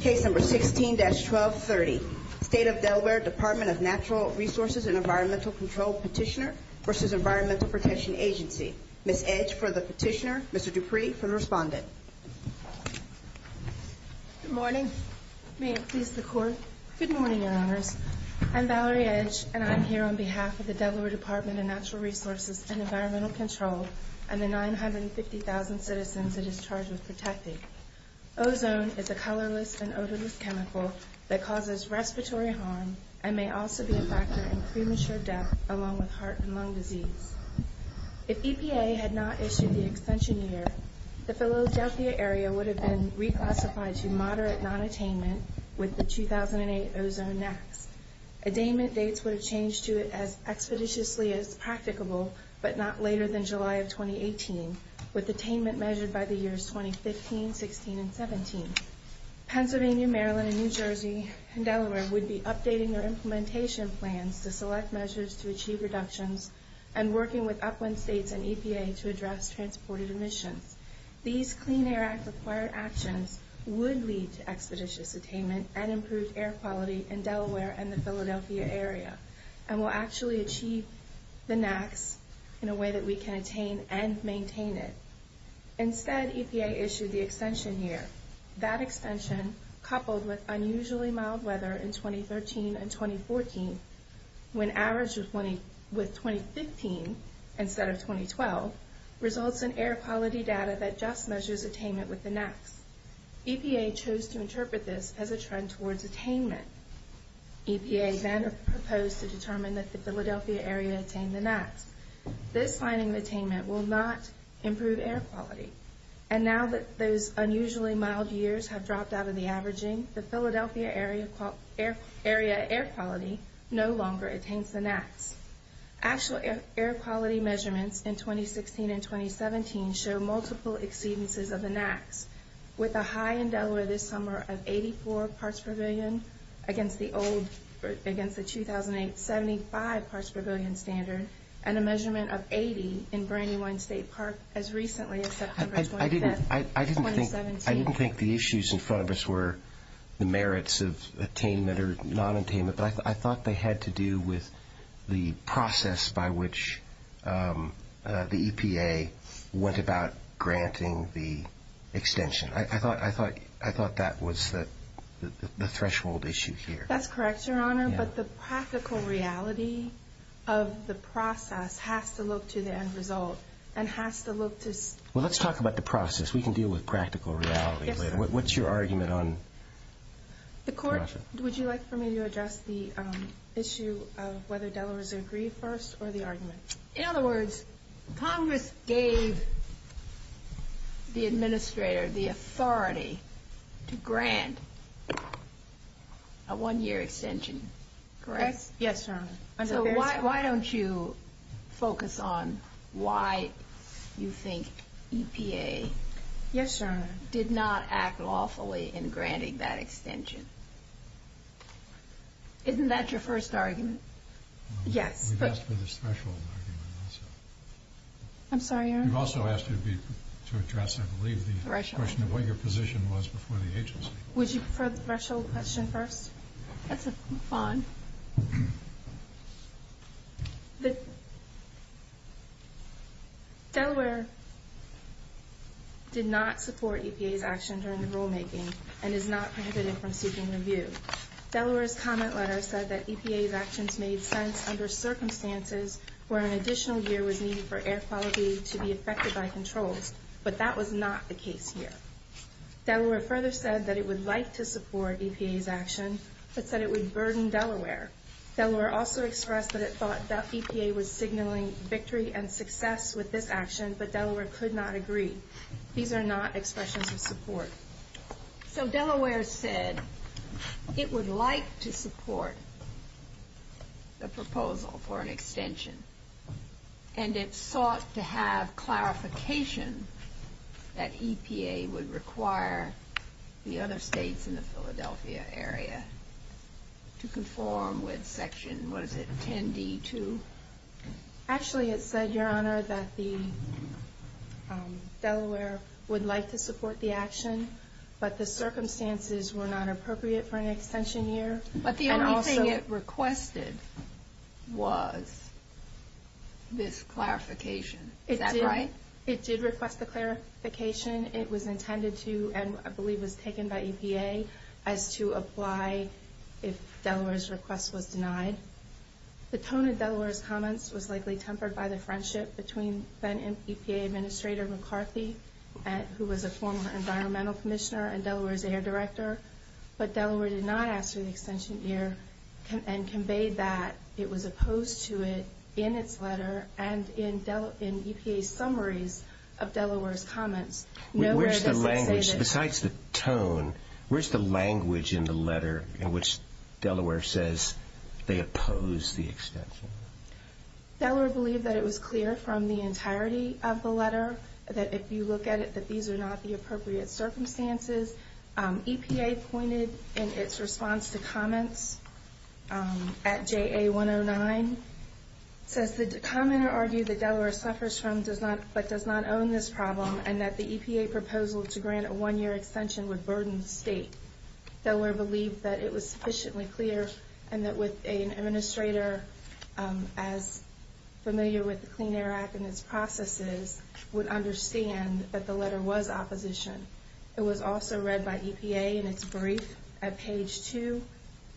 Case number 16-1230. State of Delaware Department of Natural Resources and Environmental Control Petitioner v. Environmental Protection Agency. Ms. Edge for the petitioner. Mr. Dupree for the respondent. Good morning. May it please the Court. Good morning, Your Honors. I'm Valerie Edge, and I'm here on behalf of the Delaware Department of Natural Resources and Environmental Control and the 950,000 citizens it is charged with protecting. Ozone is a colorless and odorless chemical that causes respiratory harm and may also be a factor in premature death along with heart and lung disease. If EPA had not issued the extension year, the Philadelphia area would have been reclassified to moderate non-attainment with the 2008 ozone next. Attainment dates would have changed to it as expeditiously as practicable, but not later than July of 2018, with attainment measured by the years 2015, 16, and 17. Pennsylvania, Maryland, and New Jersey and Delaware would be updating their implementation plans to select measures to achieve reductions and working with upwind states and EPA to address transported emissions. These Clean Air Act required actions would lead to expeditious attainment and improved air quality in Delaware and the Philadelphia area and will actually achieve the next in a way that we can attain and maintain it. Instead, EPA issued the extension year. That extension, coupled with unusually mild weather in 2013 and 2014, when averaged with 2015 instead of 2012, results in air quality data that just measures attainment with the next. EPA chose to interpret this as a trend towards attainment. EPA then proposed to determine that the Philadelphia area attained the next. This finding of attainment will not improve air quality. And now that those unusually mild years have dropped out of the averaging, the Philadelphia area air quality no longer attains the next. Actual air quality measurements in 2016 and 2017 show multiple exceedances of the next, with a high in Delaware this summer of 84 parts per billion against the old, against the 2008 75 parts per billion standard and a measurement of 80 in Brandywine State Park as recently as September 25th, 2017. I didn't think the issues in front of us were the merits of attainment or non-attainment, but I thought they had to do with the process by which the EPA went about granting the extension. I thought that was the threshold issue here. That's correct, Your Honor, but the practical reality of the process has to look to the end result and has to look to... Well, let's talk about the process. We can deal with practical reality later. Yes, sir. What's your argument on... The Court, would you like for me to address the issue of whether Delaware's agreed first or the argument? In other words, Congress gave the administrator the authority to grant a one-year extension, correct? Yes, Your Honor. So why don't you focus on why you think EPA... Yes, Your Honor. ...did not act lawfully in granting that extension? Isn't that your first argument? Yes, but... We've asked for the threshold argument also. I'm sorry, Your Honor? We've also asked you to address, I believe, the question of what your position was before the agency. Would you prefer the threshold question first? That's fine. Delaware did not support EPA's action during the rulemaking and is not prohibited from seeking review. Delaware's comment letter said that EPA's actions made sense under circumstances where an additional year was needed for air quality to be affected by controls, but that was not the case here. Delaware further said that it would like to support EPA's action, but said it would burden Delaware. Delaware also expressed that it thought that EPA was signaling victory and success with this action, but Delaware could not agree. These are not expressions of support. So Delaware said it would like to support the proposal for an extension, and it sought to have clarification that EPA would require the other states in the Philadelphia area to conform with Section, what is it, 10D2? Actually, it said, Your Honor, that Delaware would like to support the action, but the circumstances were not appropriate for an extension year. But the only thing it requested was this clarification. Is that right? It did request the clarification. It was intended to, and I believe was taken by EPA, as to apply if Delaware's request was denied. The tone of Delaware's comments was likely tempered by the friendship between then-EPA Administrator McCarthy, who was a former Environmental Commissioner and Delaware's Air Director. But Delaware did not ask for the extension year and conveyed that it was opposed to it in its letter and in EPA's summaries of Delaware's comments. Besides the tone, where's the language in the letter in which Delaware says they oppose the extension? Delaware believed that it was clear from the entirety of the letter that if you look at it, that these are not the appropriate circumstances. EPA pointed in its response to comments at JA 109, says the commenter argued that Delaware suffers from but does not own this problem and that the EPA proposal to grant a one-year extension would burden the state. Delaware believed that it was sufficiently clear and that with an administrator as familiar with the Clean Air Act and its processes would understand that the letter was opposition. It was also read by EPA in its brief at page 2.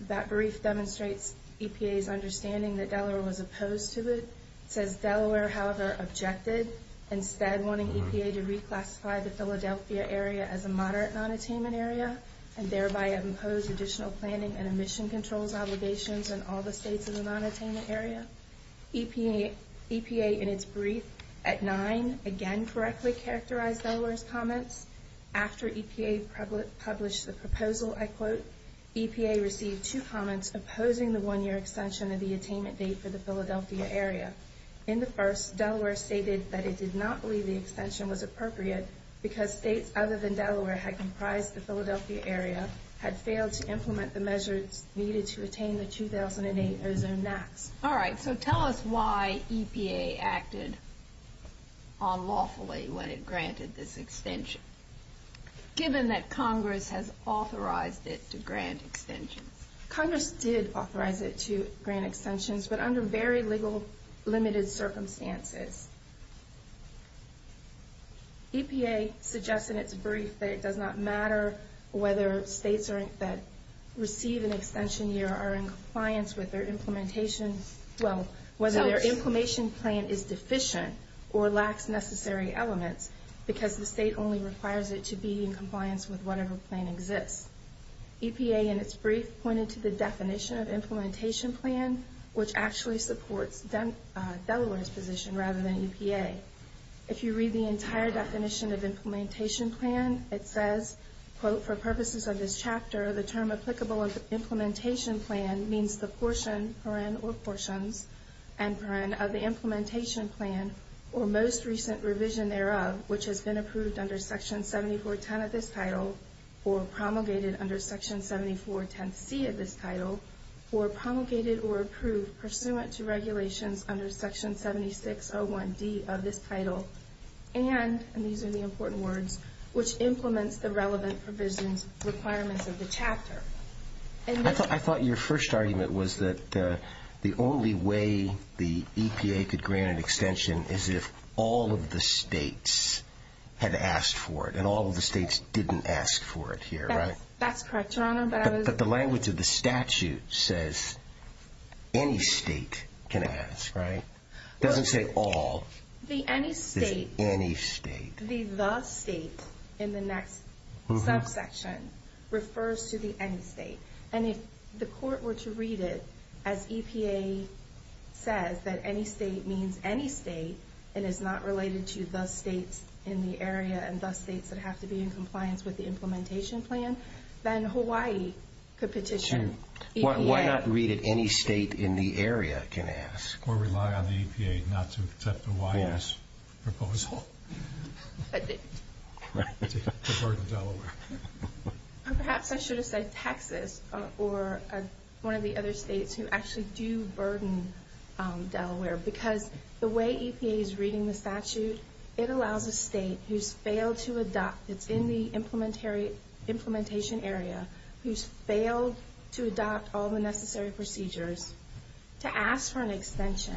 That brief demonstrates EPA's understanding that Delaware was opposed to it. It says Delaware, however, objected, instead wanting EPA to reclassify the Philadelphia area as a moderate non-attainment area and thereby impose additional planning and emission controls obligations on all the states in the non-attainment area. EPA, in its brief at 9, again correctly characterized Delaware's comments. After EPA published the proposal, I quote, EPA received two comments opposing the one-year extension of the attainment date for the Philadelphia area. In the first, Delaware stated that it did not believe the extension was appropriate because states other than Delaware had comprised the Philadelphia area had failed to implement the measures needed to attain the 2008 ozone max. All right, so tell us why EPA acted unlawfully when it granted this extension, given that Congress has authorized it to grant extensions. EPA suggests in its brief that it does not matter whether states that receive an extension year are in compliance with their implementation, well, whether their implementation plan is deficient or lacks necessary elements because the state only requires it to be in compliance with whatever plan exists. EPA, in its brief, pointed to the definition of implementation plan, which actually supports Delaware's position rather than EPA. If you read the entire definition of implementation plan, it says, quote, for purposes of this chapter, the term applicable implementation plan means the portion, paren or portions, and paren of the implementation plan or most recent revision thereof, which has been approved under section 7410 of this title or promulgated under section 7410C of this title, or promulgated or approved pursuant to regulations under section 7601D of this title, and, and these are the important words, which implements the relevant provisions, requirements of the chapter. I thought your first argument was that the only way the EPA could grant an extension is if all of the states had asked for it, and all of the states didn't ask for it here, right? That's correct, Your Honor, but I was... But the language of the statute says any state can ask, right? It doesn't say all. The any state... It's any state. The the state in the next subsection refers to the any state. And if the court were to read it as EPA says that any state means any state and is not related to the states in the area and the states that have to be in compliance with the implementation plan, then Hawaii could petition EPA. Why not read it any state in the area can ask? Or rely on the EPA not to accept Hawaii's proposal. Right, to burden Delaware. Or perhaps I should have said Texas or one of the other states who actually do burden Delaware, because the way EPA is reading the statute, it allows a state who's failed to adopt, it's in the implementation area, who's failed to adopt all the necessary procedures, to ask for an extension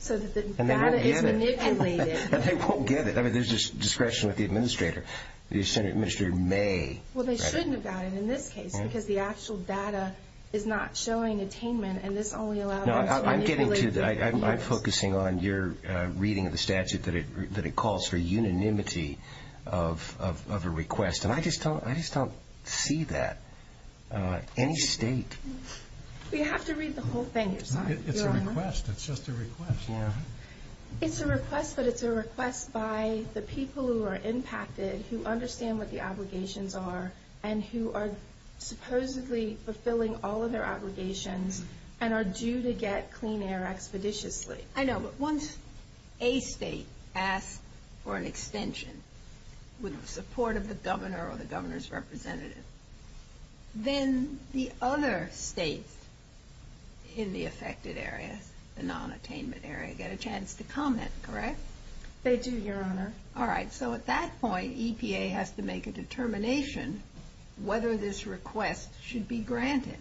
so that the data is manipulated. And they won't get it. I mean, there's discretion with the administrator. The administrator may... Well, they shouldn't have gotten it in this case, because the actual data is not showing attainment, and this only allows... No, I'm getting to that. I'm focusing on your reading of the statute that it calls for unanimity of a request, and I just don't see that. Any state... You have to read the whole thing yourself, Your Honor. It's a request. It's just a request. It's a request, but it's a request by the people who are impacted, who understand what the obligations are, and who are supposedly fulfilling all of their obligations and are due to get clean air expeditiously. I know, but once a state asks for an extension with the support of the governor or the governor's representative, then the other states in the affected area, the non-attainment area, get a chance to comment, correct? They do, Your Honor. All right. So at that point, EPA has to make a determination whether this request should be granted.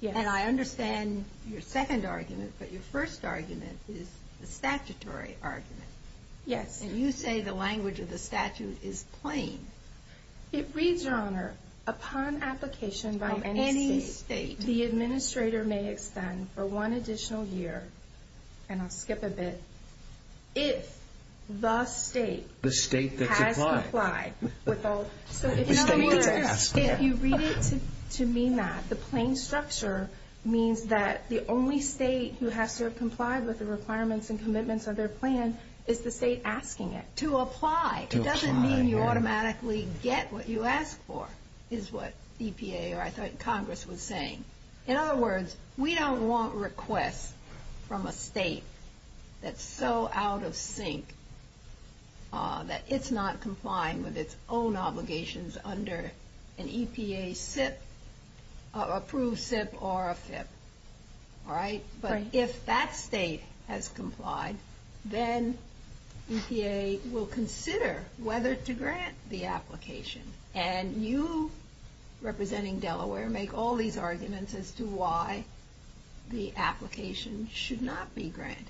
Yes. And I understand your second argument, but your first argument is the statutory argument. Yes. And you say the language of the statute is plain. It reads, Your Honor, upon application by any state, the administrator may extend for one additional year, and I'll skip a bit, if the state has complied with all... In other words, if you read it to mean that, the plain structure means that the only state who has to have complied with the requirements and commitments of their plan is the state asking it to apply. To apply. It doesn't mean you automatically get what you ask for, is what EPA or I thought Congress was saying. In other words, we don't want requests from a state that's so out of sync that it's not complying with its own obligations under an EPA SIP, approved SIP or a FIP. All right? Right. And if that state has complied, then EPA will consider whether to grant the application. And you, representing Delaware, make all these arguments as to why the application should not be granted.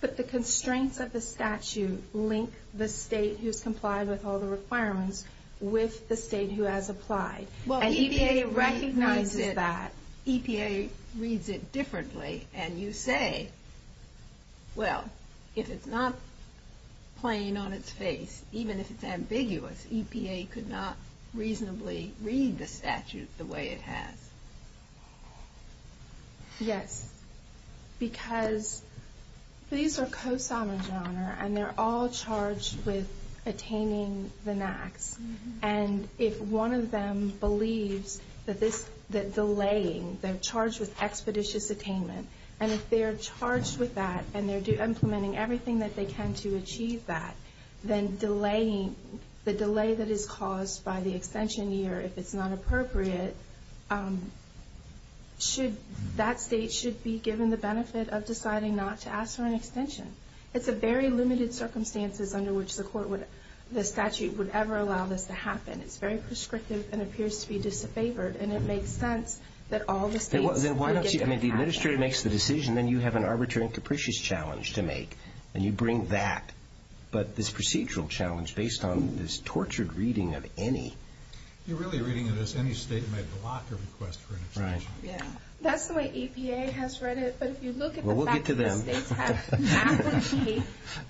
But the constraints of the statute link the state who's complied with all the requirements with the state who has applied. Well, EPA recognizes that. EPA reads it differently. And you say, well, if it's not plain on its face, even if it's ambiguous, EPA could not reasonably read the statute the way it has. Yes. Because these are co-summa genre, and they're all charged with attaining the NAAQS. And if one of them believes that delaying, they're charged with expeditious attainment, and if they're charged with that and they're implementing everything that they can to achieve that, then the delay that is caused by the extension year, if it's not appropriate, that state should be given the benefit of deciding not to ask for an extension. It's a very limited circumstances under which the statute would ever allow this to happen. It's very prescriptive and appears to be disfavored. And it makes sense that all the states would get to have an action. I mean, the administrator makes the decision, then you have an arbitrary and capricious challenge to make. And you bring that. But this procedural challenge, based on this tortured reading of any. You're really reading it as any state may block a request for an extension. Right. Yeah. That's the way EPA has read it. But if you look at the back of the states,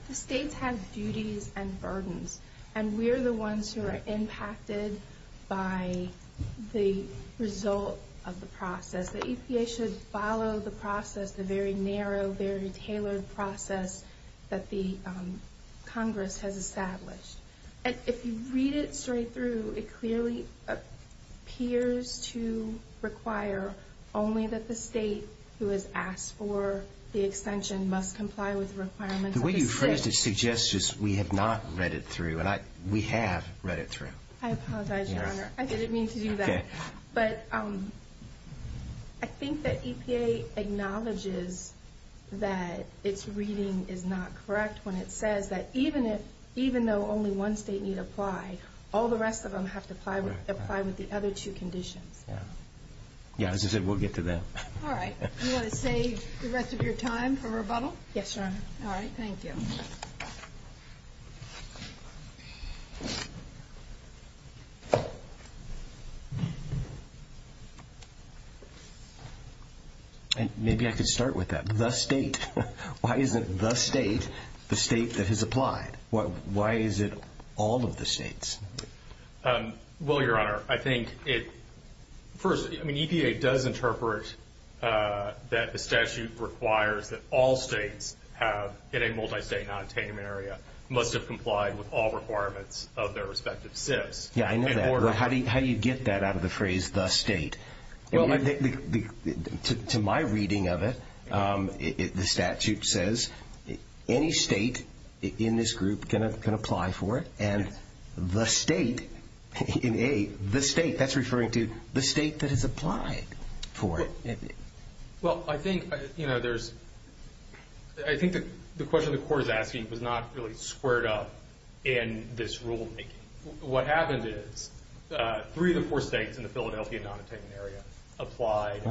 the states have duties and burdens. And we're the ones who are impacted by the result of the process. The EPA should follow the process, the very narrow, very tailored process that the Congress has established. And if you read it straight through, it clearly appears to require only that the state who has asked for the extension must comply with the requirements of the state. The way you phrased it suggests we have not read it through. And we have read it through. I apologize, Your Honor. I didn't mean to do that. Okay. But I think that EPA acknowledges that its reading is not correct when it says that even though only one state need apply, all the rest of them have to apply with the other two conditions. Yeah. Yeah. As I said, we'll get to that. All right. You want to save the rest of your time for rebuttal? Yes, Your Honor. All right. Thank you. Maybe I could start with that. Why isn't the state the state that has applied? Why is it all of the states? Well, Your Honor, I think it – first, I mean, EPA does interpret that the statute requires that all states have, in a multi-state non-attainment area, must have complied with all requirements of their respective SIFs. Yeah, I know that. How do you get that out of the phrase, the state? Well, to my reading of it, the statute says any state in this group can apply for it, and the state in A, the state, that's referring to the state that has applied for it. Well, I think, you know, there's – I think the question the court is asking was not really squared up in this rulemaking. What happened is three of the four states in the Philadelphia non-attainment area applied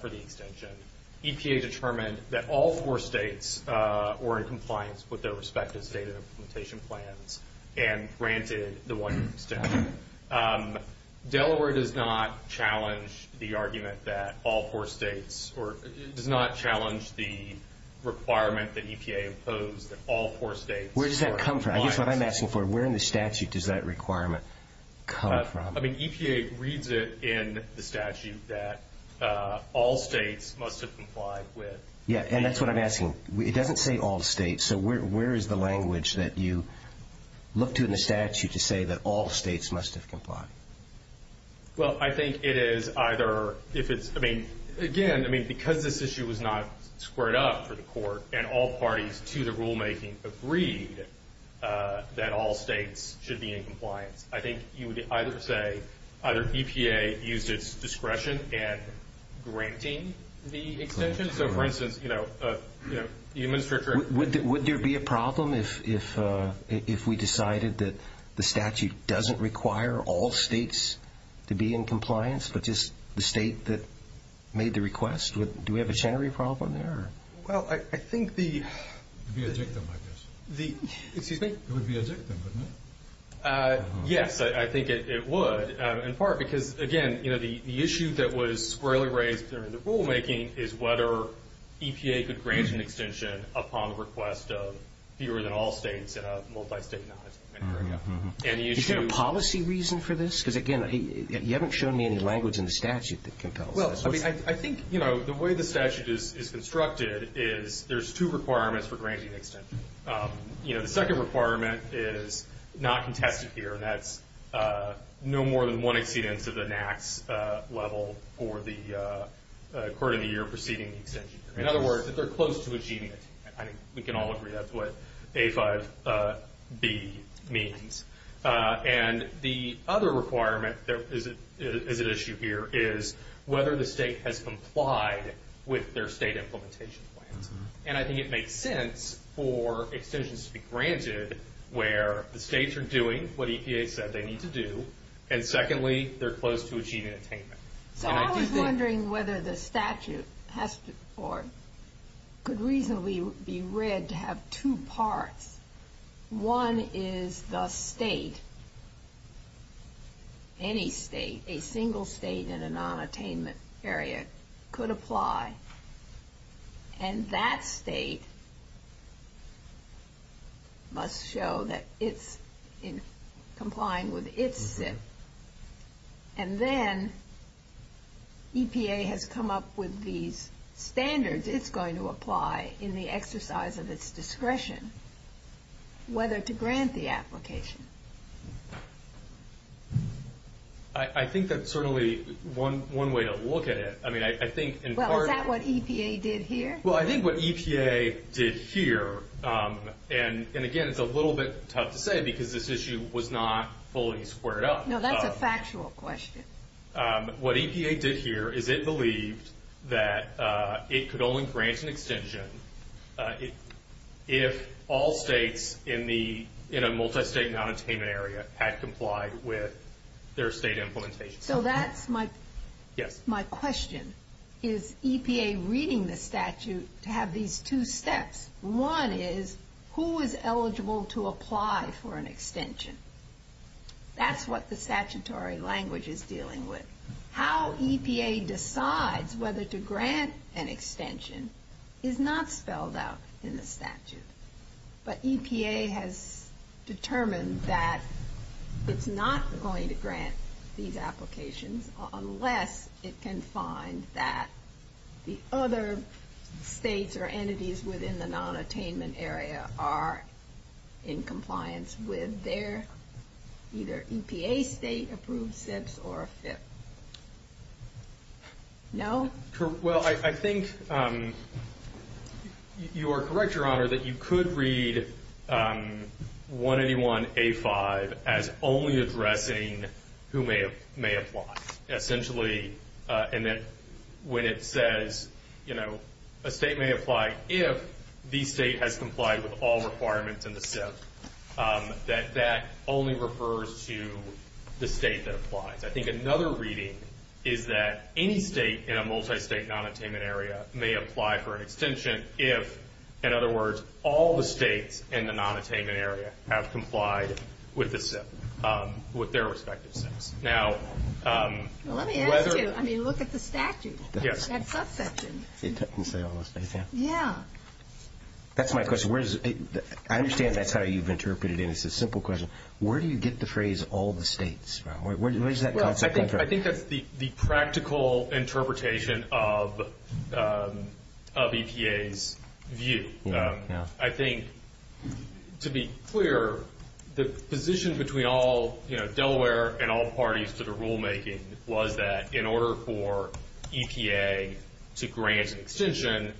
for the extension. EPA determined that all four states were in compliance with their respective state implementation plans and granted the one extension. Delaware does not challenge the argument that all four states – or it does not challenge the requirement that EPA impose that all four states are in compliance. Where does that come from? I guess what I'm asking for, where in the statute does that requirement come from? I mean, EPA reads it in the statute that all states must have complied with. Yeah, and that's what I'm asking. It doesn't say all states, so where is the language that you look to in the statute to say that all states must have complied? Well, I think it is either if it's – I mean, again, I mean, because this issue was not squared up for the court and all parties to the rulemaking agreed that all states should be in compliance. I think you would either say either EPA used its discretion in granting the extension. So, for instance, you know, the administration – Would there be a problem if we decided that the statute doesn't require all states to be in compliance but just the state that made the request? Do we have a general problem there? Well, I think the – It would be a dictum, I guess. Excuse me? It would be a dictum, wouldn't it? Yes, I think it would, in part because, again, you know, the issue that was squarely raised during the rulemaking is whether EPA could grant an extension upon the request of fewer than all states in a multi-state non-attainment agreement. Is there a policy reason for this? Because, again, you haven't shown me any language in the statute that compels this. I think, you know, the way the statute is constructed is there's two requirements for granting an extension. You know, the second requirement is not contested here, and that's no more than one exceedance of the NAAQS level for the quarter of the year preceding the extension. In other words, that they're close to achieving it. I think we can all agree that's what A5B means. And the other requirement that is at issue here is whether the state has complied with their state implementation plans. And I think it makes sense for extensions to be granted where the states are doing what EPA said they need to do, and secondly, they're close to achieving attainment. So I was wondering whether the statute has to – or could reasonably be read to have two parts. One is the state, any state, a single state in a non-attainment area could apply, and that state must show that it's complying with its SIP. And then EPA has come up with these standards it's going to apply in the exercise of its discretion, whether to grant the application. I think that's certainly one way to look at it. I mean, I think in part – Well, is that what EPA did here? Well, I think what EPA did here – and again, it's a little bit tough to say because this issue was not fully squared up. No, that's a factual question. What EPA did here is it believed that it could only grant an extension if all states in a multi-state non-attainment area had complied with their state implementation. So that's my question. Is EPA reading the statute to have these two steps? One is, who is eligible to apply for an extension? That's what the statutory language is dealing with. How EPA decides whether to grant an extension is not spelled out in the statute. But EPA has determined that it's not going to grant these applications unless it can find that the other states or entities within the non-attainment area are in compliance with their – either EPA state approved steps or a FIP. No? Well, I think you are correct, Your Honor, that you could read 181A5 as only addressing who may apply. Essentially, when it says a state may apply if the state has complied with all requirements in the SIP, that that only refers to the state that applies. I think another reading is that any state in a multi-state non-attainment area may apply for an extension if, in other words, all the states in the non-attainment area have complied with the SIP, with their respective SIPs. Let me ask you, look at the statute, that subsection. It doesn't say all the states, yeah? Yeah. That's my question. I understand that's how you've interpreted it. It's a simple question. Where do you get the phrase, all the states? Where does that concept come from? I think that's the practical interpretation of EPA's view. I think, to be clear, the position between Delaware and all parties to the rulemaking was that in order for EPA to grant an extension,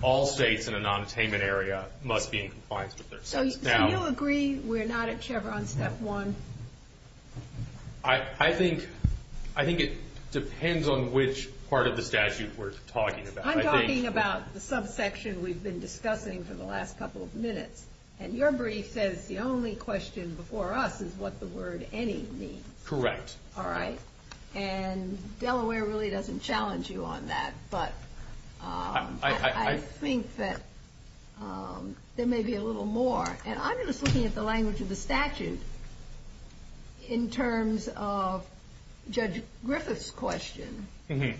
all states in a non-attainment area must be in compliance with their SIPs. So you agree we're not at Chevron Step 1? I think it depends on which part of the statute we're talking about. I'm talking about the subsection we've been discussing for the last couple of minutes. And your brief says the only question before us is what the word any means. Correct. All right. And Delaware really doesn't challenge you on that. But I think that there may be a little more. And I'm just looking at the language of the statute in terms of Judge Griffith's question. And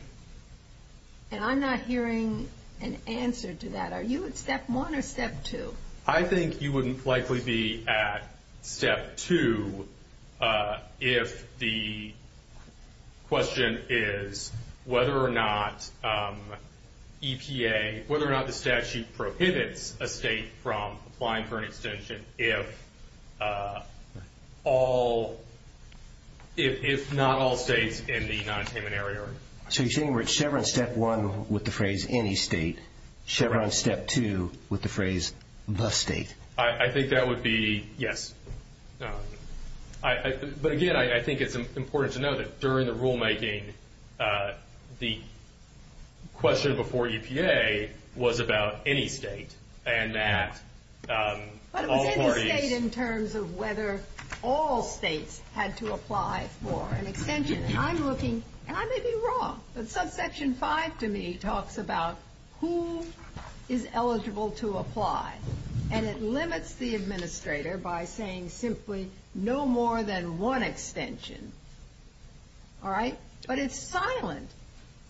I'm not hearing an answer to that. Are you at Step 1 or Step 2? I think you would likely be at Step 2 if the question is whether or not the statute prohibits a state from applying for an extension if not all states in the non-attainment area are. So you're saying we're at Chevron Step 1 with the phrase any state, Chevron Step 2 with the phrase the state? I think that would be yes. But again, I think it's important to know that during the rulemaking, the question before EPA was about any state. But it was in the state in terms of whether all states had to apply for an extension. And I may be wrong, but subsection 5 to me talks about who is eligible to apply. And it limits the administrator by saying simply no more than one extension. All right? But it's silent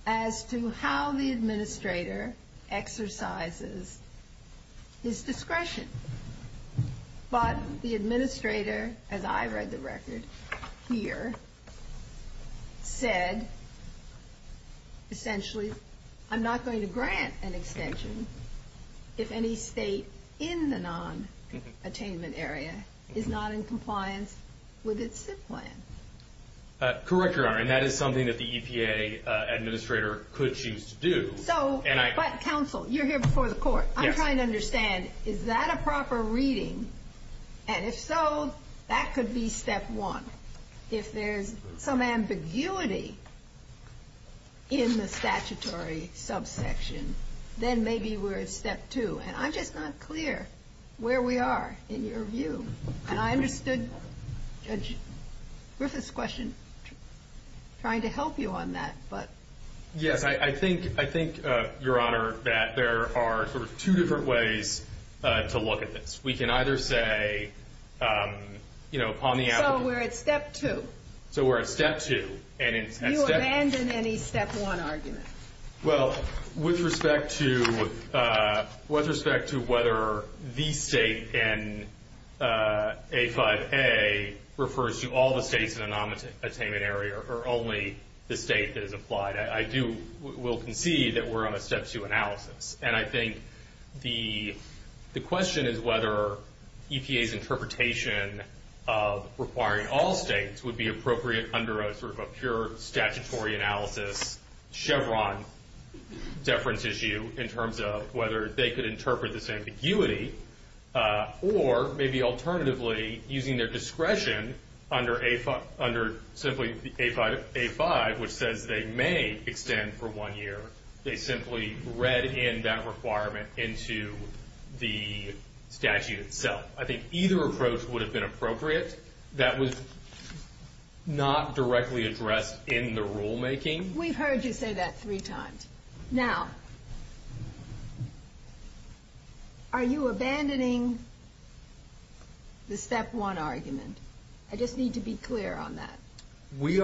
as to how the administrator exercises his discretion. But the administrator, as I read the record here, said essentially, I'm not going to grant an extension if any state in the non-attainment area is not in compliance with its SIP plan. Correct, Your Honor. And that is something that the EPA administrator could choose to do. But counsel, you're here before the court. I'm trying to understand, is that a proper reading? And if so, that could be Step 1. If there's some ambiguity in the statutory subsection, then maybe we're at Step 2. And I'm just not clear where we are in your view. And I understood Judge Griffith's question trying to help you on that. Yes, I think, Your Honor, that there are sort of two different ways to look at this. We can either say, you know, upon the applicant. So we're at Step 2. So we're at Step 2. You abandon any Step 1 argument. Well, with respect to whether the state in A5A refers to all the states in the non-attainment area or only the state that is applied, I will concede that we're on a Step 2 analysis. And I think the question is whether EPA's interpretation of requiring all states would be appropriate under a sort of pure statutory analysis, Chevron deference issue in terms of whether they could interpret this ambiguity, or maybe alternatively using their discretion under simply A5, which says they may extend for one year. They simply read in that requirement into the statute itself. I think either approach would have been appropriate. That was not directly addressed in the rulemaking. We've heard you say that three times. Now, are you abandoning the Step 1 argument? I just need to be clear on that. We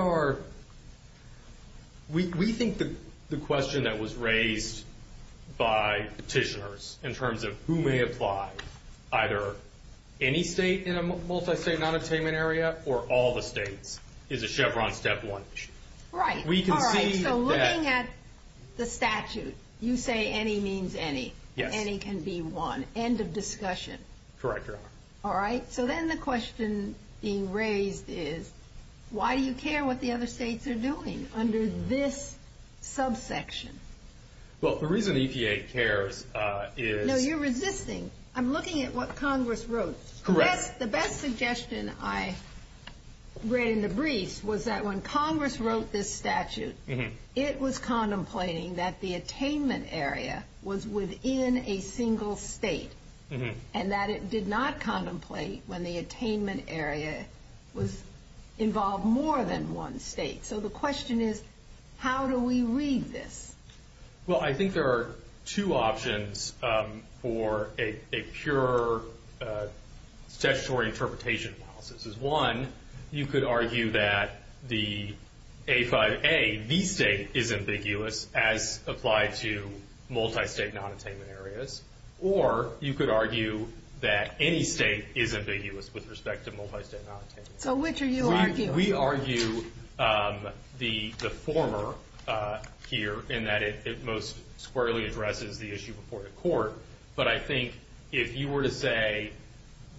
think the question that was raised by petitioners in terms of who may apply, either any state in a multi-state non-attainment area or all the states, is a Chevron Step 1 issue. Right. So looking at the statute, you say any means any. Yes. Any can be one. End of discussion. Correct, Your Honor. All right. So then the question being raised is, why do you care what the other states are doing under this subsection? Well, the reason EPA cares is – No, you're resisting. I'm looking at what Congress wrote. Correct. The best suggestion I read in the briefs was that when Congress wrote this statute, it was contemplating that the attainment area was within a single state and that it did not contemplate when the attainment area involved more than one state. So the question is, how do we read this? Well, I think there are two options for a pure statutory interpretation. One, you could argue that the A5A, the state, is ambiguous as applied to multi-state non-attainment areas. Or you could argue that any state is ambiguous with respect to multi-state non-attainment areas. So which are you arguing? We argue the former here in that it most squarely addresses the issue before the court. But I think if you were to say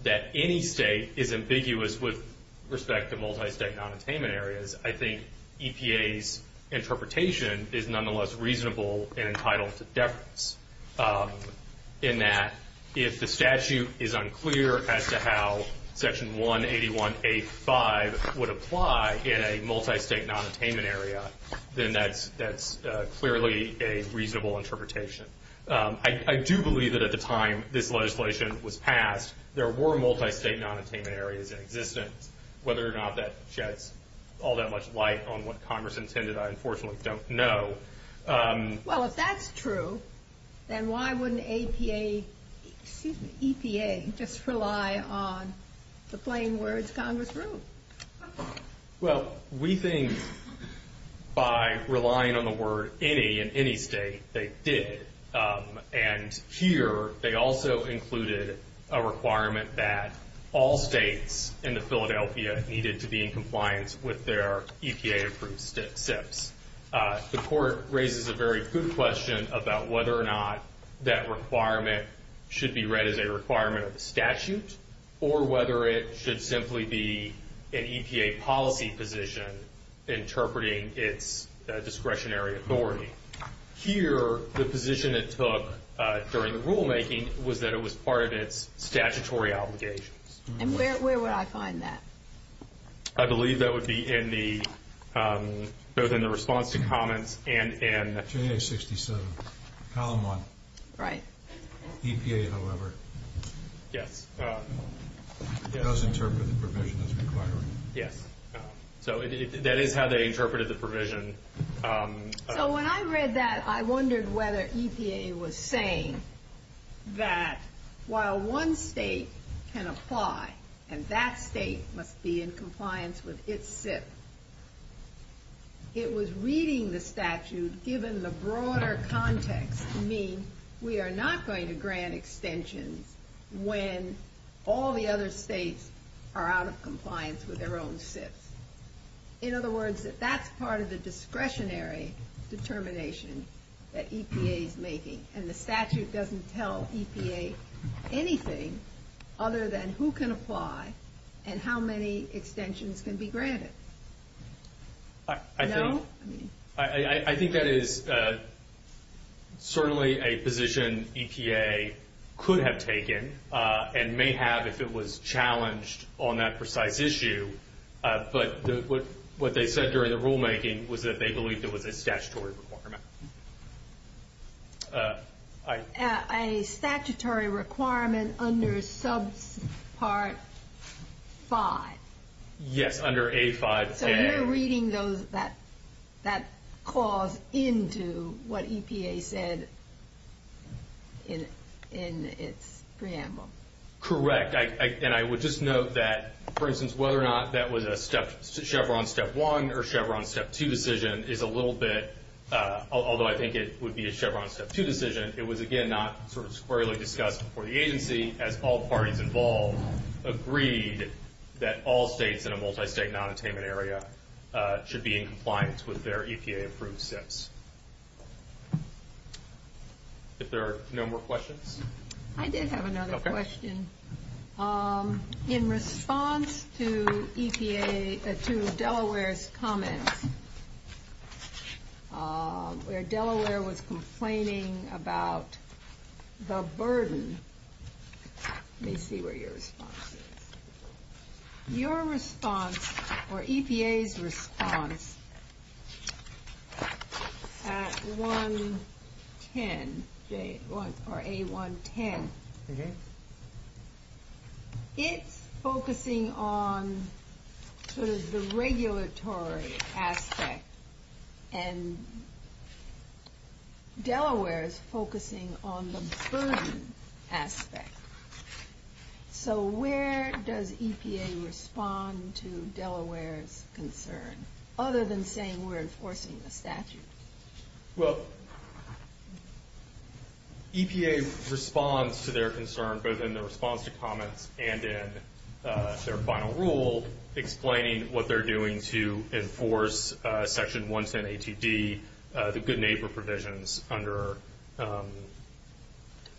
that any state is ambiguous with respect to multi-state non-attainment areas, I think EPA's interpretation is nonetheless reasonable and entitled to deference, in that if the statute is unclear as to how Section 181A5 would apply in a multi-state non-attainment area, then that's clearly a reasonable interpretation. I do believe that at the time this legislation was passed, there were multi-state non-attainment areas in existence. Whether or not that sheds all that much light on what Congress intended, I unfortunately don't know. Well, if that's true, then why wouldn't EPA just rely on the plain words, Congress ruled? Well, we think by relying on the word any in any state, they did. And here they also included a requirement that all states in the Philadelphia needed to be in compliance with their EPA-approved SIPs. The court raises a very good question about whether or not that requirement should be read as a requirement of the statute, or whether it should simply be an EPA policy position interpreting its discretionary authority. Here, the position it took during the rulemaking was that it was part of its statutory obligations. And where would I find that? I believe that would be both in the response to comments and in- J.A. 67, Column 1. Right. EPA, however. Yes. It does interpret the provision as required. Yes. So that is how they interpreted the provision. So when I read that, I wondered whether EPA was saying that while one state can apply, and that state must be in compliance with its SIP, it was reading the statute given the broader context to mean we are not going to grant extensions when all the other states are out of compliance with their own SIPs. In other words, that that's part of the discretionary determination that EPA is making. And the statute doesn't tell EPA anything other than who can apply and how many extensions can be granted. No? I think that is certainly a position EPA could have taken and may have if it was challenged on that precise issue. But what they said during the rulemaking was that they believed it was a statutory requirement. A statutory requirement under Subpart 5. Yes, under A5. So you're reading that clause into what EPA said in its preamble. Correct. And I would just note that, for instance, whether or not that was a Chevron Step 1 or Chevron Step 2 decision is a little bit, although I think it would be a Chevron Step 2 decision, it was again not sort of squarely discussed before the agency as all parties involved agreed that all states in a multi-state non-attainment area should be in compliance with their EPA approved SIPs. If there are no more questions. I did have another question. Okay. In response to EPA, to Delaware's comments, where Delaware was complaining about the burden. Let me see where your response is. Your response, or EPA's response, at A110, it's focusing on sort of the regulatory aspect and Delaware's focusing on the burden aspect. So where does EPA respond to Delaware's concern? Other than saying we're enforcing the statute. Well, EPA responds to their concern both in the response to comments and in their final rule explaining what they're doing to enforce Section 110 ATD, the good neighbor provisions under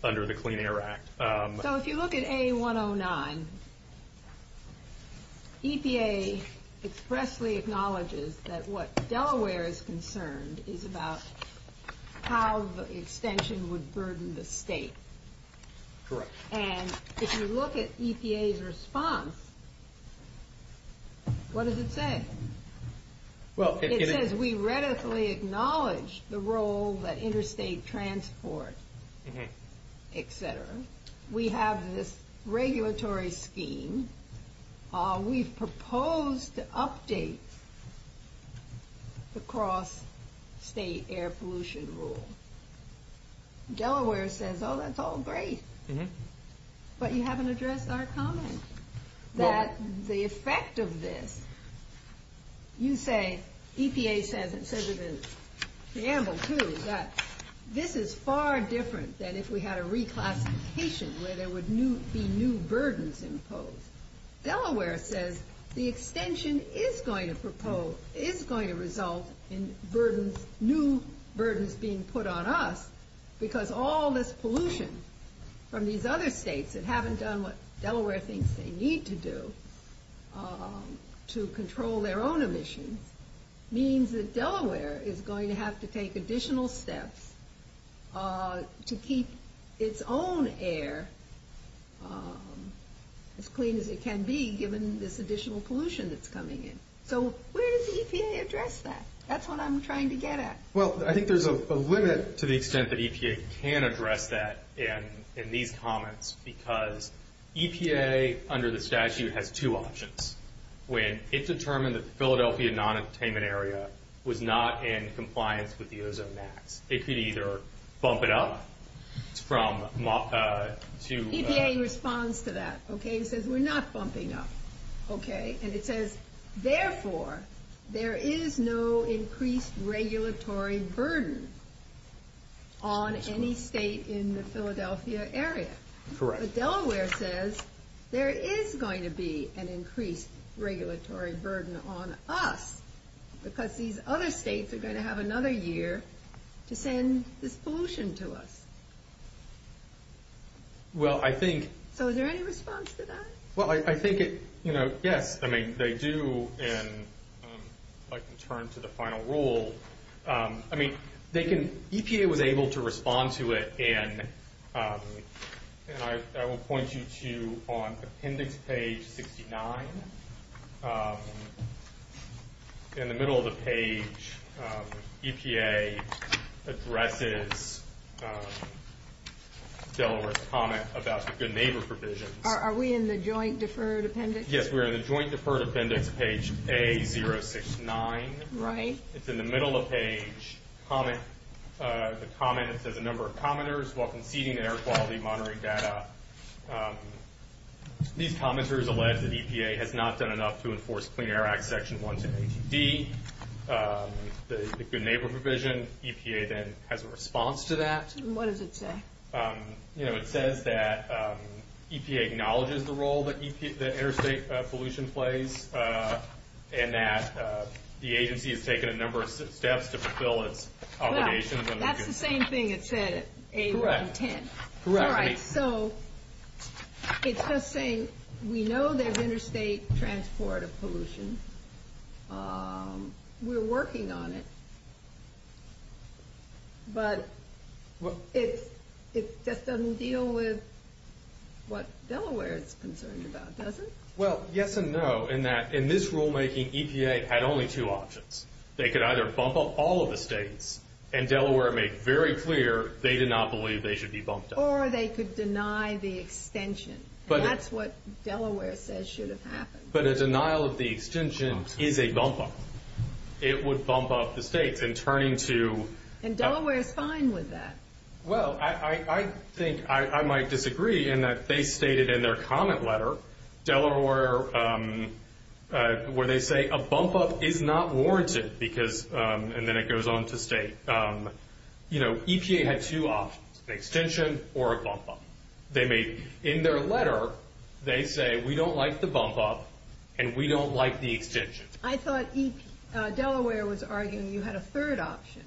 the Clean Air Act. So if you look at A109, EPA expressly acknowledges that what Delaware is concerned is about how the extension would burden the state. Correct. And if you look at EPA's response, what does it say? It says we readily acknowledge the role that interstate transport, etc. We have this regulatory scheme. We've proposed to update the cross state air pollution rule. Delaware says, oh, that's all great. But you haven't addressed our comment. That the effect of this, you say, EPA says it in preamble, too, that this is far different than if we had a reclassification where there would be new burdens imposed. Delaware says the extension is going to result in new burdens being put on us because all this pollution from these other states that haven't done what Delaware thinks they need to do to control their own emissions means that Delaware is going to have to take additional steps to keep its own air as clean as it can be given this additional pollution that's coming in. So where does EPA address that? That's what I'm trying to get at. Well, I think there's a limit to the extent that EPA can address that in these comments because EPA, under the statute, has two options. When it determined that the Philadelphia non-attainment area was not in compliance with the ozone max, it could either bump it up from to- EPA responds to that, okay? It says we're not bumping up, okay? And it says, therefore, there is no increased regulatory burden on any state in the Philadelphia area. Correct. But Delaware says there is going to be an increased regulatory burden on us because these other states are going to have another year to send this pollution to us. Well, I think- So is there any response to that? Well, I think it- Yes, I mean, they do, and I can turn to the final rule. I mean, they can- EPA was able to respond to it, and I will point you to, on appendix page 69, in the middle of the page, EPA addresses Delaware's comment about the good neighbor provisions. Are we in the joint deferred appendix? Yes, we are in the joint deferred appendix, page A069. Right. It's in the middle of page comment. The comment, it says, a number of commenters welcome seating and air quality monitoring data. These commenters allege that EPA has not done enough to enforce Clean Air Act section 1 to 80D, the good neighbor provision. EPA then has a response to that. What does it say? It says that EPA acknowledges the role that interstate pollution plays and that the agency has taken a number of steps to fulfill its obligations. Right. That's the same thing it said at A110. Correct. All right. So it's just saying we know there's interstate transport of pollution. We're working on it. But it just doesn't deal with what Delaware is concerned about, does it? Well, yes and no in that in this rulemaking, EPA had only two options. They could either bump up all of the states, and Delaware made very clear they did not believe they should be bumped up. Or they could deny the extension. That's what Delaware says should have happened. But a denial of the extension is a bump up. It would bump up the states in turning to. And Delaware is fine with that. Well, I think I might disagree in that they stated in their comment letter, Delaware, where they say a bump up is not warranted, and then it goes on to state, you know, EPA had two options, an extension or a bump up. In their letter, they say we don't like the bump up and we don't like the extension. I thought Delaware was arguing you had a third option.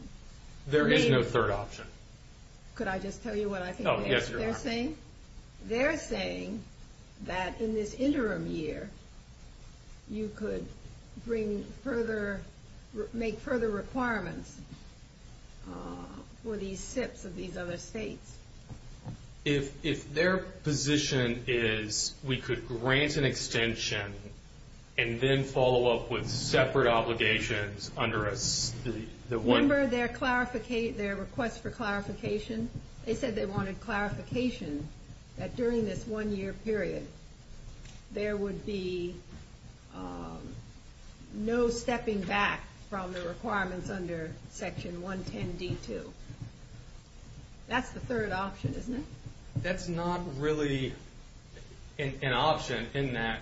There is no third option. Could I just tell you what I think they're saying? Yes, you are. They're saying that in this interim year, you could make further requirements for these SIPs of these other states. If their position is we could grant an extension and then follow up with separate obligations under a state. Remember their request for clarification? They said they wanted clarification that during this one-year period, there would be no stepping back from the requirements under Section 110D2. That's the third option, isn't it? That's not really an option in that.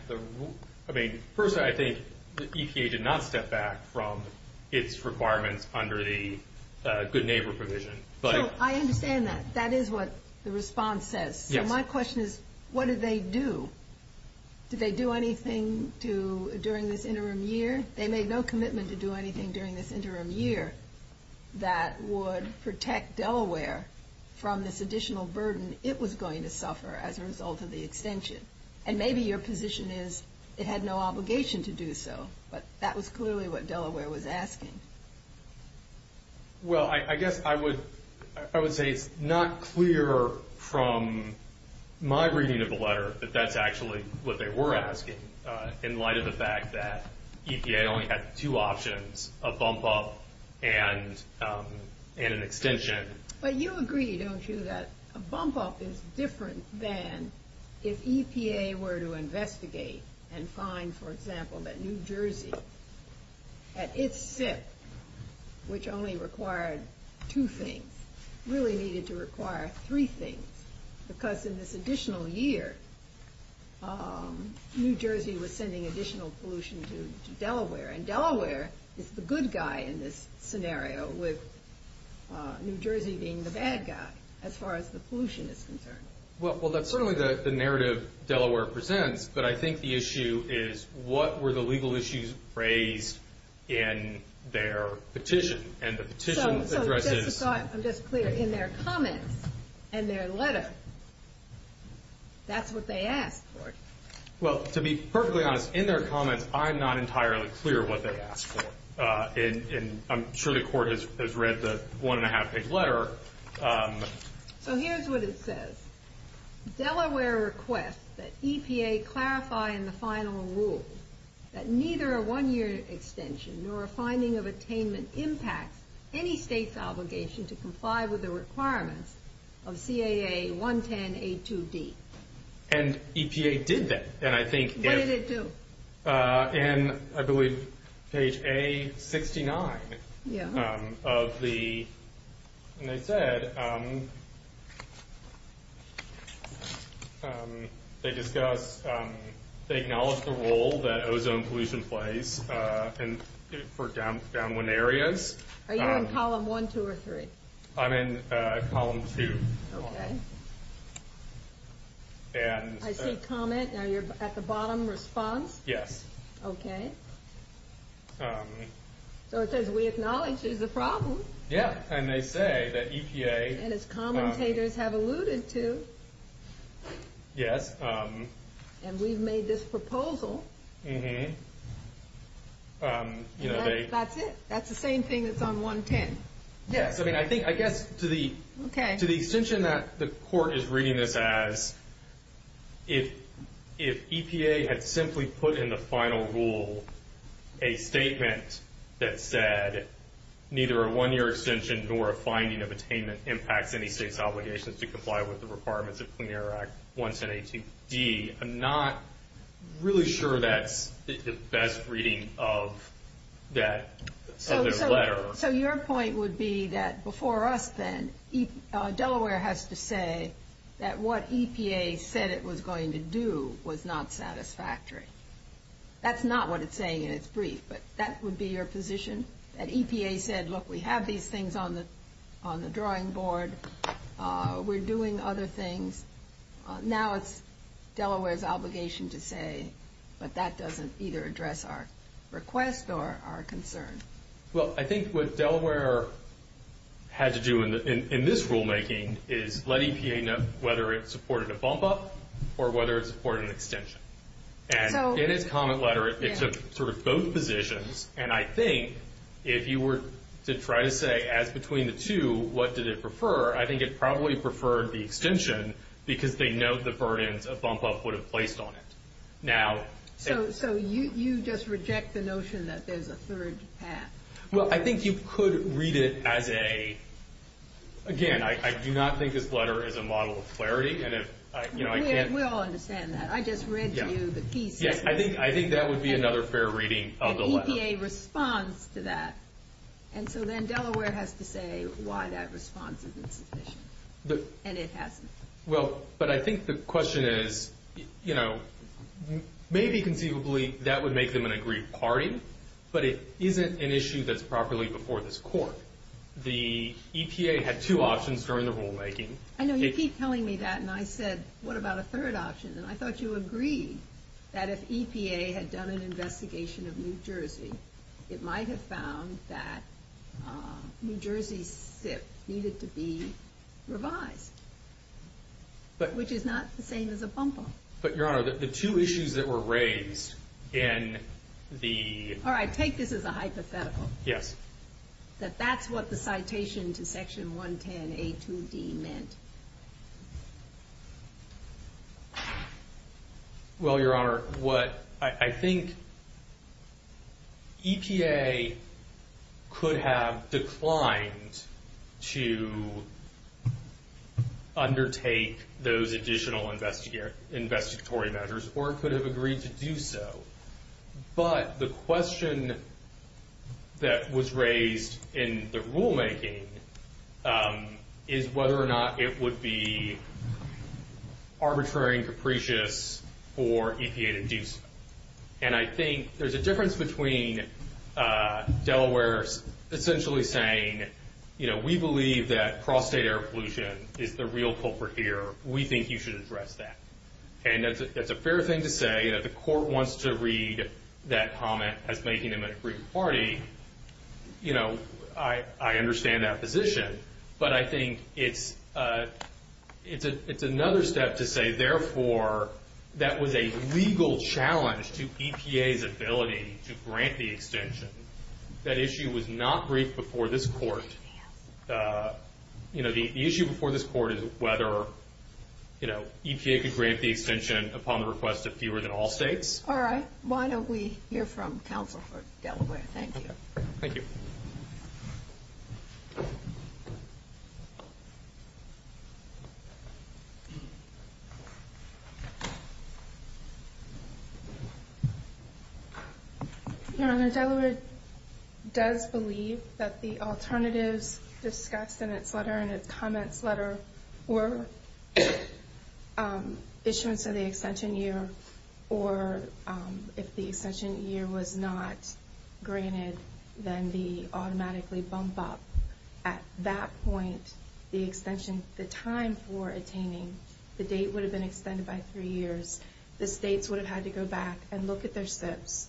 I mean, personally, I think EPA did not step back from its requirements under the good neighbor provision. So I understand that. That is what the response says. So my question is, what did they do? Did they do anything during this interim year? They made no commitment to do anything during this interim year that would protect Delaware from this additional burden it was going to suffer as a result of the extension. And maybe your position is it had no obligation to do so, but that was clearly what Delaware was asking. Well, I guess I would say it's not clear from my reading of the letter that that's actually what they were asking in light of the fact that EPA only had two options, a bump-up and an extension. But you agree, don't you, that a bump-up is different than if EPA were to investigate and find, for example, that New Jersey, at its SIP, which only required two things, really needed to require three things. Because in this additional year, New Jersey was sending additional pollution to Delaware, and Delaware is the good guy in this scenario with New Jersey being the bad guy as far as the pollution is concerned. Well, that's certainly the narrative Delaware presents, but I think the issue is what were the legal issues raised in their petition? So just to be clear, in their comments and their letter, that's what they asked for? Well, to be perfectly honest, in their comments, I'm not entirely clear what they asked for. And I'm sure the Court has read the one-and-a-half-page letter. So here's what it says. Delaware requests that EPA clarify in the final rule that neither a one-year extension nor a finding of attainment impacts any state's obligation to comply with the requirements of CAA 110.A.2.D. And EPA did that. What did it do? In, I believe, page A69 of the... And they said... They discuss... They acknowledge the role that ozone pollution plays for downwind areas. Are you in column one, two, or three? I'm in column two. Okay. And... I see comment. Now you're at the bottom, response? Yes. Okay. So it says, we acknowledge there's a problem. Yeah, and they say that EPA... And as commentators have alluded to. Yes. And we've made this proposal. Mm-hmm. That's it. That's the same thing that's on 110. Yes, I mean, I guess to the... Okay. To the extension that the court is reading this as, if EPA had simply put in the final rule a statement that said, neither a one-year extension nor a finding of attainment impacts any state's obligation to comply with the requirements of CAA 110.A.2.D., I'm not really sure that's the best reading of that letter. So your point would be that before us then, Delaware has to say that what EPA said it was going to do was not satisfactory. That's not what it's saying in its brief, but that would be your position? That EPA said, look, we have these things on the drawing board. We're doing other things. Now it's Delaware's obligation to say, but that doesn't either address our request or our concern. Well, I think what Delaware had to do in this rulemaking is let EPA know whether it supported a bump-up or whether it supported an extension. And in its comment letter, it took sort of both positions, and I think if you were to try to say, as between the two, what did it prefer, I think it probably preferred the extension because they know the burdens a bump-up would have placed on it. So you just reject the notion that there's a third path? Well, I think you could read it as a, again, I do not think this letter is a model of clarity. We all understand that. I just read to you the key statement. Yes, I think that would be another fair reading of the letter. EPA responds to that, and so then Delaware has to say why that response is insufficient, and it hasn't. Well, but I think the question is, you know, maybe conceivably that would make them an agreed party, but it isn't an issue that's properly before this Court. The EPA had two options during the rulemaking. I know you keep telling me that, and I said, what about a third option? And I thought you agreed that if EPA had done an investigation of New Jersey, it might have found that New Jersey's SIP needed to be revised, which is not the same as a bump-up. But, Your Honor, the two issues that were raised in the... All right, take this as a hypothetical. Yes. That that's what the citation to Section 110A2D meant. Well, Your Honor, what I think EPA could have declined to undertake those additional investigatory measures or could have agreed to do so, but the question that was raised in the rulemaking is whether or not it would be arbitrary and capricious for EPA to do so. And I think there's a difference between Delaware essentially saying, you know, we believe that cross-state air pollution is the real culprit here. We think you should address that. And that's a fair thing to say. If the court wants to read that comment as making them an aggrieved party, you know, I understand that position. But I think it's another step to say, therefore, that was a legal challenge to EPA's ability to grant the extension. That issue was not briefed before this court. You know, the issue before this court is whether, you know, EPA could grant the extension upon the request of fewer than all states. All right. Why don't we hear from counsel for Delaware? Thank you. Thank you. Your Honor, Delaware does believe that the alternatives discussed in its letter, in its comments letter, were issuance of the extension year, or if the extension year was not granted, then the automatically bump up. At that point, the extension, the time for attaining the date would have been extended by three years. The states would have had to go back and look at their SIPs.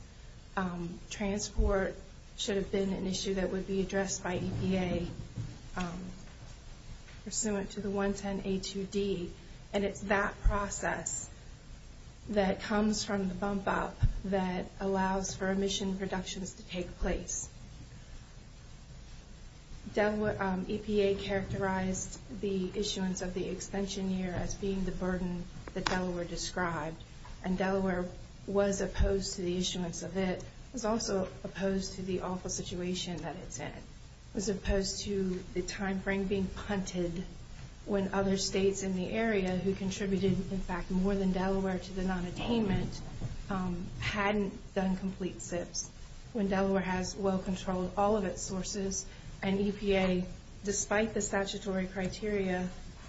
Transport should have been an issue that would be addressed by EPA pursuant to the 110A2D. And it's that process that comes from the bump up that allows for emission reductions to take place. EPA characterized the issuance of the extension year as being the burden that Delaware described. And Delaware was opposed to the issuance of it. It was also opposed to the awful situation that it's in. It was opposed to the timeframe being punted when other states in the area who contributed, in fact, more than Delaware to the nonattainment hadn't done complete SIPs, when Delaware has well controlled all of its sources, and EPA, despite the statutory criteria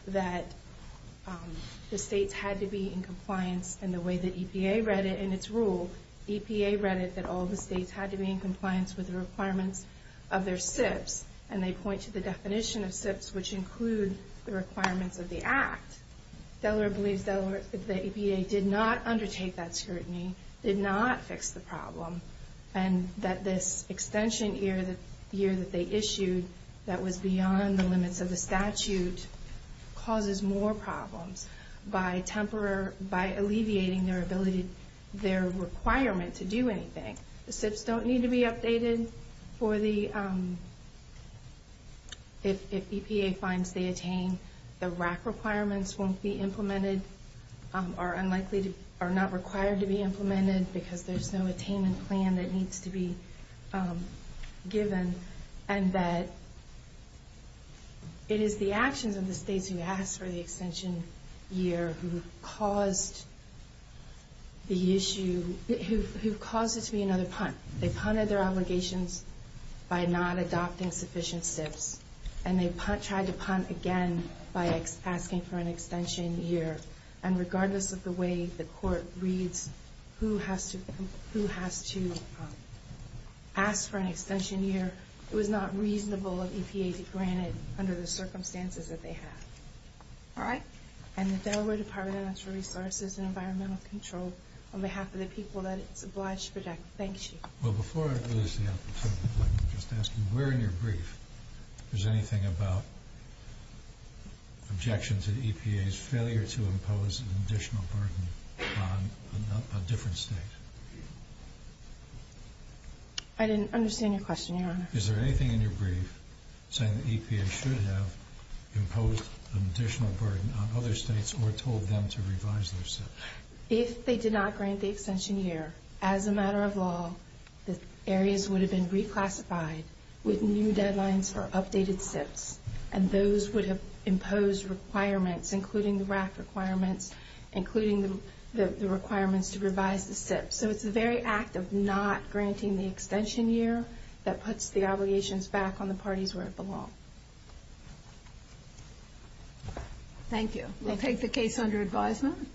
that the states had to be in compliance, and the way that EPA read it in its rule, EPA read it that all the states had to be in compliance with the requirements of their SIPs, and they point to the definition of SIPs, which include the requirements of the Act. Delaware believes that the EPA did not undertake that scrutiny, did not fix the problem, and that this extension year that they issued that was beyond the limits of the statute causes more problems by alleviating their requirement to do anything. The SIPs don't need to be updated if EPA finds they attain. The RAC requirements won't be implemented, are not required to be implemented, because there's no attainment plan that needs to be given. And that it is the actions of the states who asked for the extension year who caused the issue, who caused it to be another punt. They punted their obligations by not adopting sufficient SIPs, and they tried to punt again by asking for an extension year. And regardless of the way the court reads who has to ask for an extension year, it was not reasonable of EPA to grant it under the circumstances that they have. All right? And the Delaware Department of Natural Resources and Environmental Control, on behalf of the people that it's obliged to protect, thanks you. Well, before I lose the opportunity, let me just ask you, where in your brief is anything about objections at EPA's failure to impose an additional burden on a different state? I didn't understand your question, Your Honor. Is there anything in your brief saying that EPA should have imposed an additional burden on other states or told them to revise their SIPs? If they did not grant the extension year, as a matter of law, the areas would have been reclassified with new deadlines for updated SIPs, and those would have imposed requirements, including the RAC requirements, including the requirements to revise the SIPs. So it's the very act of not granting the extension year that puts the obligations back on the parties where it belongs. Thank you. We'll take the case under advisement.